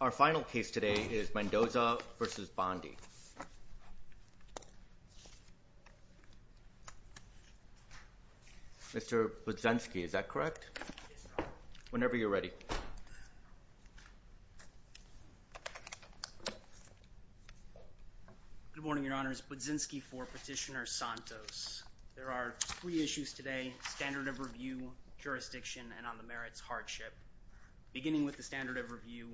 Our final case today is Mendoza v. Bondi. Mr. Budzinski, is that correct? Whenever you're ready. Good morning, your honors. Budzinski for Petitioner Santos. There are three issues today, standard of review, jurisdiction, and on the merits hardship. Beginning with the standard of review,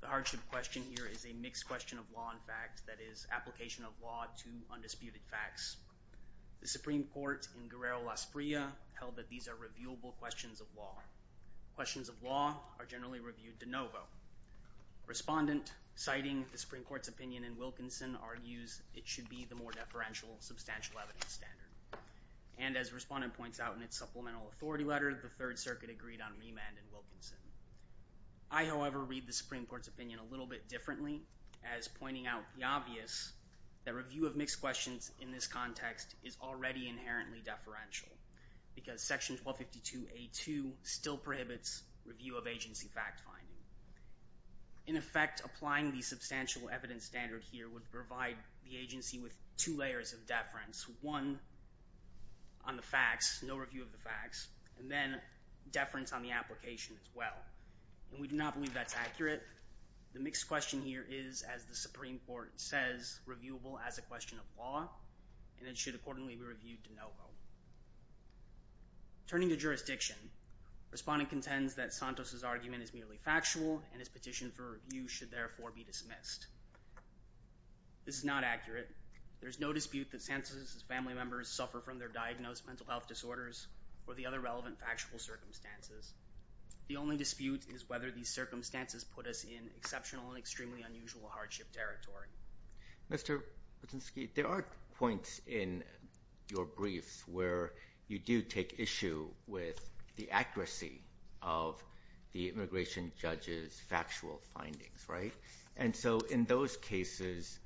the hardship question here is a mixed question of law and fact, that is, application of law to undisputed facts. The Supreme Court in Guerrero-Las Prias held that these are reviewable questions of law. Questions of law are generally reviewed de novo. Respondent citing the Supreme Court's opinion in Wilkinson argues it should be the more deferential substantial evidence standard. And as respondent points out in its supplemental authority letter, the Third Circuit agreed on Wilkinson. I, however, read the Supreme Court's opinion a little bit differently as pointing out the obvious, that review of mixed questions in this context is already inherently deferential because Section 1252A2 still prohibits review of agency fact-finding. In effect, applying the substantial evidence standard here would provide the agency with two layers of deference, one on the facts, no review of the facts, and then deference on the application as well. And we do not believe that's accurate. The mixed question here is, as the Supreme Court says, reviewable as a question of law and it should accordingly be reviewed de novo. Turning to jurisdiction, respondent contends that Santos's argument is merely factual and his petition for review should therefore be dismissed. This is not accurate. There's no dispute that family members suffer from their diagnosed mental health disorders or the other relevant factual circumstances. The only dispute is whether these circumstances put us in exceptional and extremely unusual hardship territory. Mr. Patzinski, there are points in your briefs where you do take issue with the accuracy of the immigration judge's factual findings, right? And so in those cases,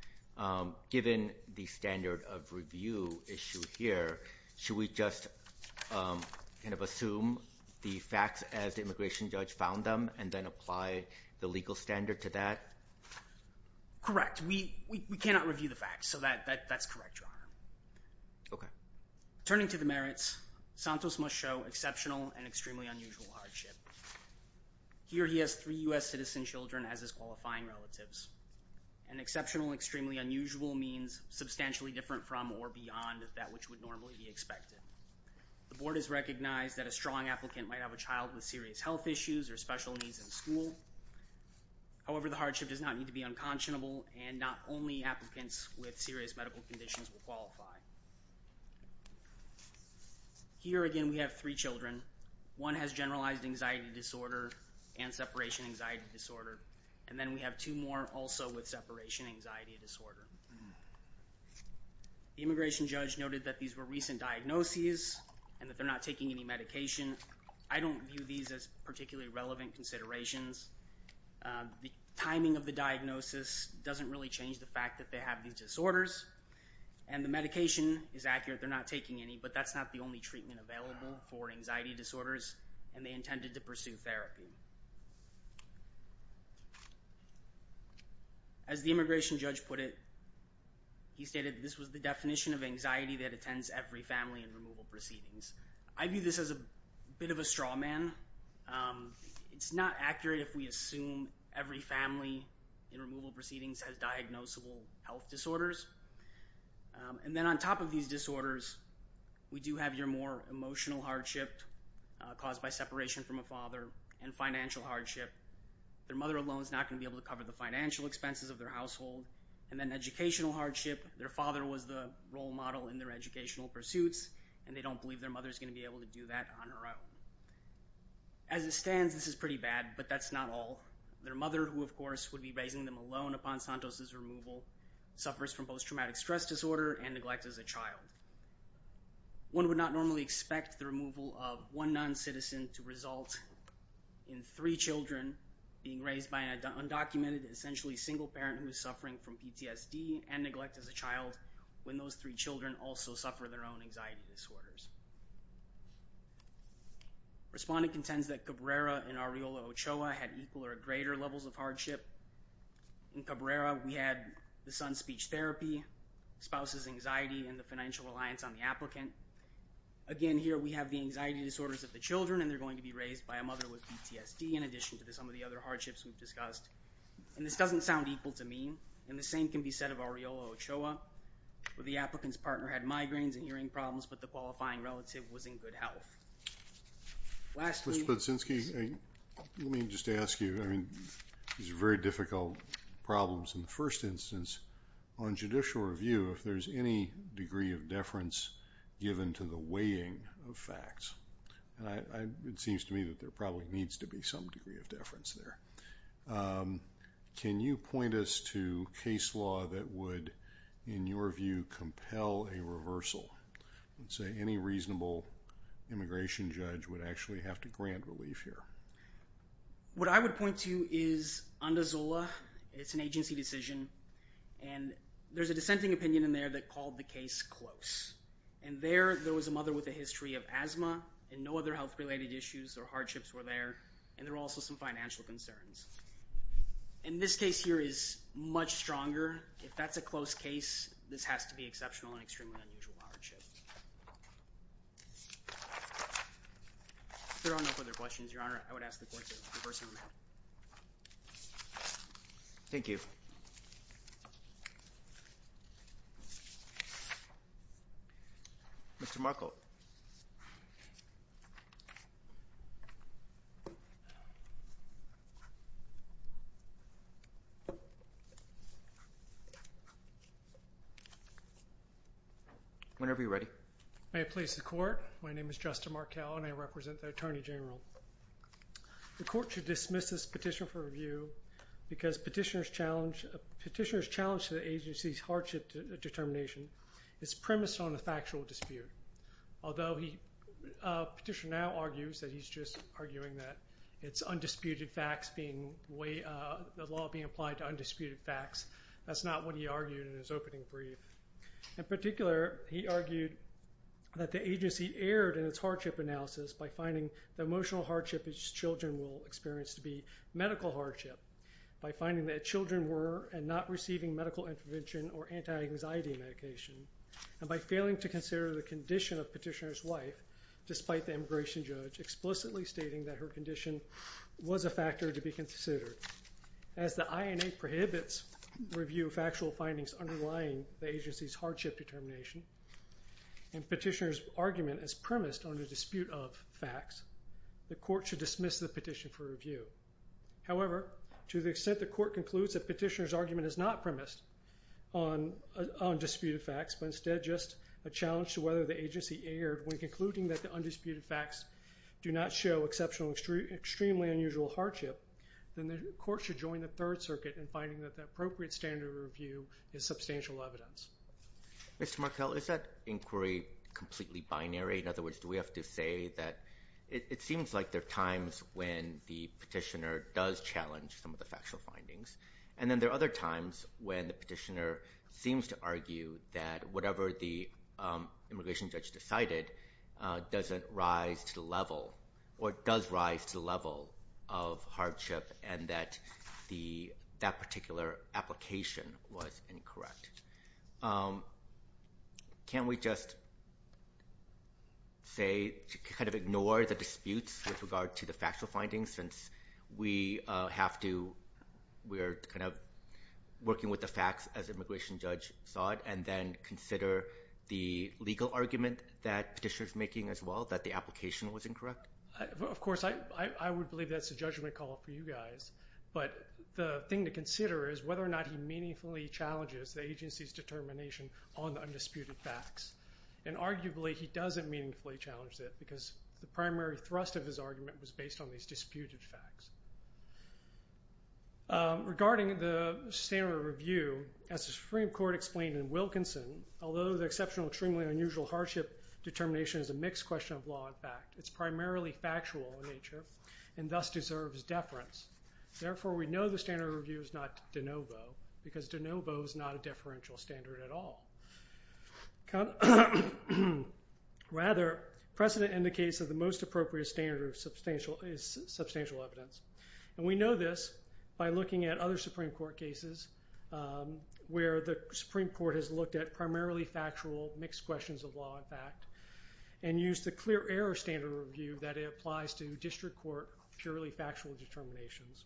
given the standard of review issue here, should we just kind of assume the facts as the immigration judge found them and then apply the legal standard to that? Correct. We cannot review the facts, so that's correct, Your Honor. Okay. Turning to the merits, Santos must show exceptional and extremely unusual hardship. Here he has three U.S. citizen children as his qualifying relatives. An exceptional and extremely unusual means substantially different from or beyond that which would normally be expected. The board has recognized that a strong applicant might have a child with serious health issues or special needs in school. However, the hardship does not need to be unconscionable and not only applicants with serious medical conditions will qualify. Here again, we have three children. One has generalized anxiety disorder and separation anxiety disorder, and then we have two more also with separation anxiety disorder. The immigration judge noted that these were recent diagnoses and that they're not taking any medication. I don't view these as particularly relevant considerations. The timing of the diagnosis doesn't really change the fact that they have these disorders, and the medication is accurate. They're not taking any, but that's not the only treatment available for anxiety disorders, and they intended to pursue therapy. As the immigration judge put it, he stated this was the definition of anxiety that attends every family and removal proceedings. I view this as a bit of a straw man. It's not accurate if we assume every family in removal proceedings has diagnosable health disorders, and then on top of these disorders, we do have your more emotional hardship caused by separation from a father and financial hardship. Their mother alone is not going to be able to cover the financial expenses of their household, and then educational hardship. Their father was the role model in their educational pursuits, and they don't believe their mother is going to be able to do that on her own. As it stands, this is pretty bad, but that's not all. Their mother, who of course would be raising them alone upon Santos' removal, suffers from both traumatic stress disorder and neglect as a child. One would not normally expect the removal of one non-citizen to result in three children being raised by an undocumented, essentially single parent who's suffering from PTSD and neglect as a child when those three children also suffer their own anxiety disorders. Respondent contends that Cabrera and Arreola-Ochoa had equal or greater levels of hardship. In Cabrera, we had the son's speech therapy, spouse's anxiety, and the financial reliance on the applicant. Again, here we have the anxiety disorders of the children, and they're going to be raised by a mother with PTSD in addition to some of the other hardships we've discussed. And this doesn't sound equal to mean, and the same can be said of Arreola-Ochoa, where the applicant's partner had migraines and hearing problems, but the qualifying relative was in good health. Mr. Podsinski, let me just ask you, I mean, these are very difficult problems. In the first instance, on judicial review, if there's any degree of deference given to the weighing of facts, and it seems to me that there probably needs to be some degree of deference there. Can you point us to case law that would, in your view, compel a reversal? Let's say any reasonable immigration judge would actually have to grant relief here. What I would point to is Ondozola. It's an agency decision, and there's a dissenting opinion in there that called the case close. And there, there was a mother with a history of asthma, and no other health-related issues or hardships were there, and there were also some financial concerns. And this case here is much stronger. If that's a close case, this has to be exceptional and extremely unusual hardship. If there are no further questions, Your Honor, I would ask the Court to reverse order. Thank you. Mr. Markle. Whenever you're ready. May I please the Court? My name is Justin Markle, and I represent the Attorney General. The Court should dismiss this petition for review because petitioner's challenge to the agency's hardship determination is premised on a factual dispute. Although the petitioner now argues that he's just arguing that it's undisputed facts being way, the law being applied to undisputed facts, that's not what he argued in his opening brief. In particular, he argued that the agency erred in its hardship analysis by finding the emotional hardship its children will experience to be medical hardship, by finding that children were and not receiving medical intervention or anti-anxiety medication, and by failing to consider the condition of petitioner's wife, despite the immigration judge explicitly stating that her condition was a factor to be considered. As the INA prohibits review of factual findings underlying the agency's hardship determination, and petitioner's argument is premised on a dispute of facts, the Court should dismiss the petition for review. However, to the extent the Court concludes that petitioner's argument is not premised on disputed facts, but instead just a challenge to whether the agency erred when concluding that the undisputed facts do not show exceptional, extremely unusual hardship, then the Court should join the Third Circuit in finding that the appropriate standard of review is substantial evidence. Mr. Markell, is that inquiry completely binary? In other words, do we have to say that it seems like there are times when the petitioner does challenge some of the factual findings, and then there are other times when the petitioner seems to argue that whatever the immigration judge decided doesn't rise to the level or does rise to the level of hardship and that that particular application was incorrect? Can't we just say, kind of ignore the disputes with regard to the factual findings since we have to, we're kind of working with the facts as immigration judge saw it, and then consider the legal argument that petitioner's making as well, that the application was incorrect? Of course, I would believe that's a judgment call for you guys, but the thing to consider is whether or not he meaningfully challenges the agency's determination on the undisputed facts, and arguably he doesn't meaningfully challenge it because the primary thrust of his argument was based on these disputed facts. Regarding the standard of review, as the Supreme Court explained in Wilkinson, although the exceptional, extremely unusual hardship determination is a mixed question of law and fact, it's primarily factual in nature and thus deserves deference. Therefore, we know the standard of review is not de novo because de novo is not a differential standard at all. Rather, precedent indicates that the most appropriate standard is substantial evidence, and we know this by looking at other Supreme Court cases where the Supreme Court has looked at primarily factual mixed questions of law and fact, and used the clear error standard review that it applies to district court purely factual determinations.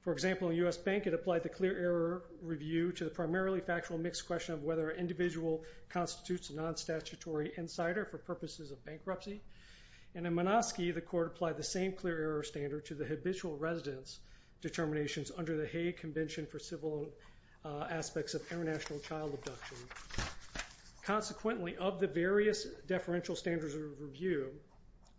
For example, in U.S. Bank, it applied the clear error review to the primarily factual mixed question of whether an individual constitutes a non-statutory insider for purposes of bankruptcy, and in Minoski, the court applied the same clear error standard to the habitual residence determinations under the Hague Convention for Civil Aspects of International Child Abduction. Consequently, of the various differential standards of review,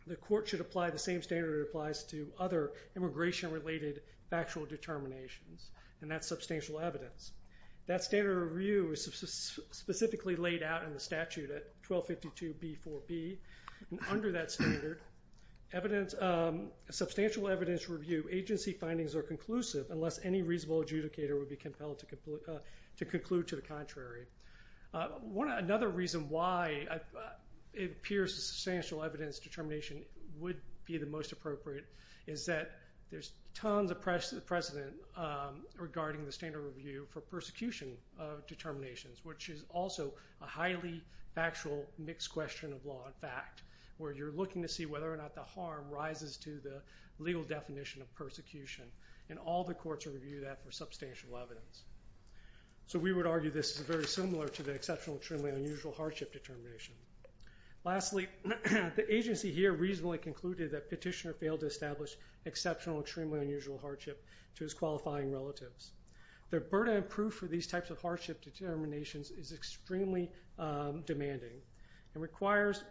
the court should apply the same standard it applies to other immigration-related factual determinations, and that's substantial evidence. That standard of review is specifically laid out in the statute at 1252b4b, and under that standard, substantial evidence review agency findings are unless any reasonable adjudicator would be compelled to conclude to the contrary. Another reason why it appears substantial evidence determination would be the most appropriate is that there's tons of precedent regarding the standard review for persecution of determinations, which is also a highly factual mixed question of law and fact, where you're looking to see whether or not the harm rises to the legal definition of persecution, and all the courts review that for substantial evidence. So we would argue this is very similar to the exceptional extremely unusual hardship determination. Lastly, the agency here reasonably concluded that Petitioner failed to establish exceptional extremely unusual hardship to his qualifying relatives. The burden of proof for these types of hardship determinations is extremely demanding and requires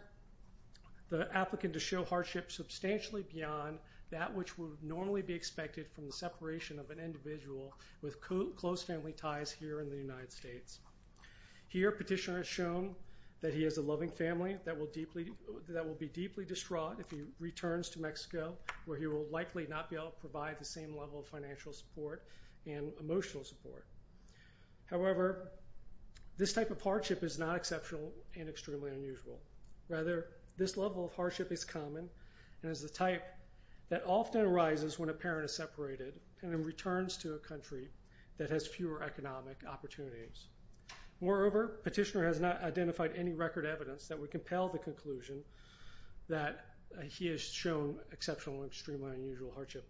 the applicant to show hardship substantially beyond that which would normally be expected from the separation of an individual with close family ties here in the United States. Here, Petitioner has shown that he has a loving family that will be deeply distraught if he returns to Mexico, where he will likely not be able to provide the same level of financial support and emotional support. However, this type of hardship is not exceptional and extremely unusual. Rather, this level of hardship is common and is the type that often arises when a parent is separated and then returns to a country that has fewer economic opportunities. Moreover, Petitioner has not identified any record evidence that would compel the conclusion that he has shown exceptional extremely unusual hardship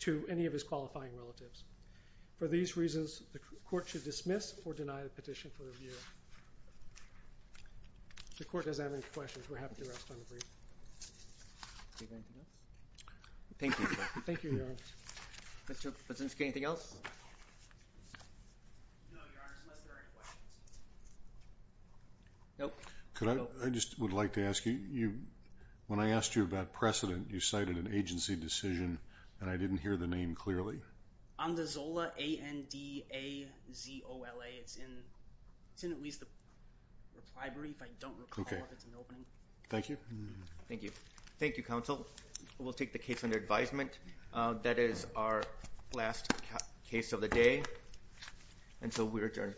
to any of his qualifying relatives. For these reasons, the court should or deny the petition for review. The court doesn't have any questions. We're happy to rest on the brief. Thank you. Thank you, Your Honor. Mr. Patzinski, anything else? No, Your Honor, unless there are any questions. Nope. I just would like to ask you, when I asked you about precedent, you cited an agency decision, and I didn't hear the name clearly. Andazola, A-N-D-A-Z-O-L-A. It's in at least the reply brief. I don't recall if it's in the opening. Thank you. Thank you. Thank you, counsel. We'll take the case under advisement. That is our last case of the day, and so we're adjourned.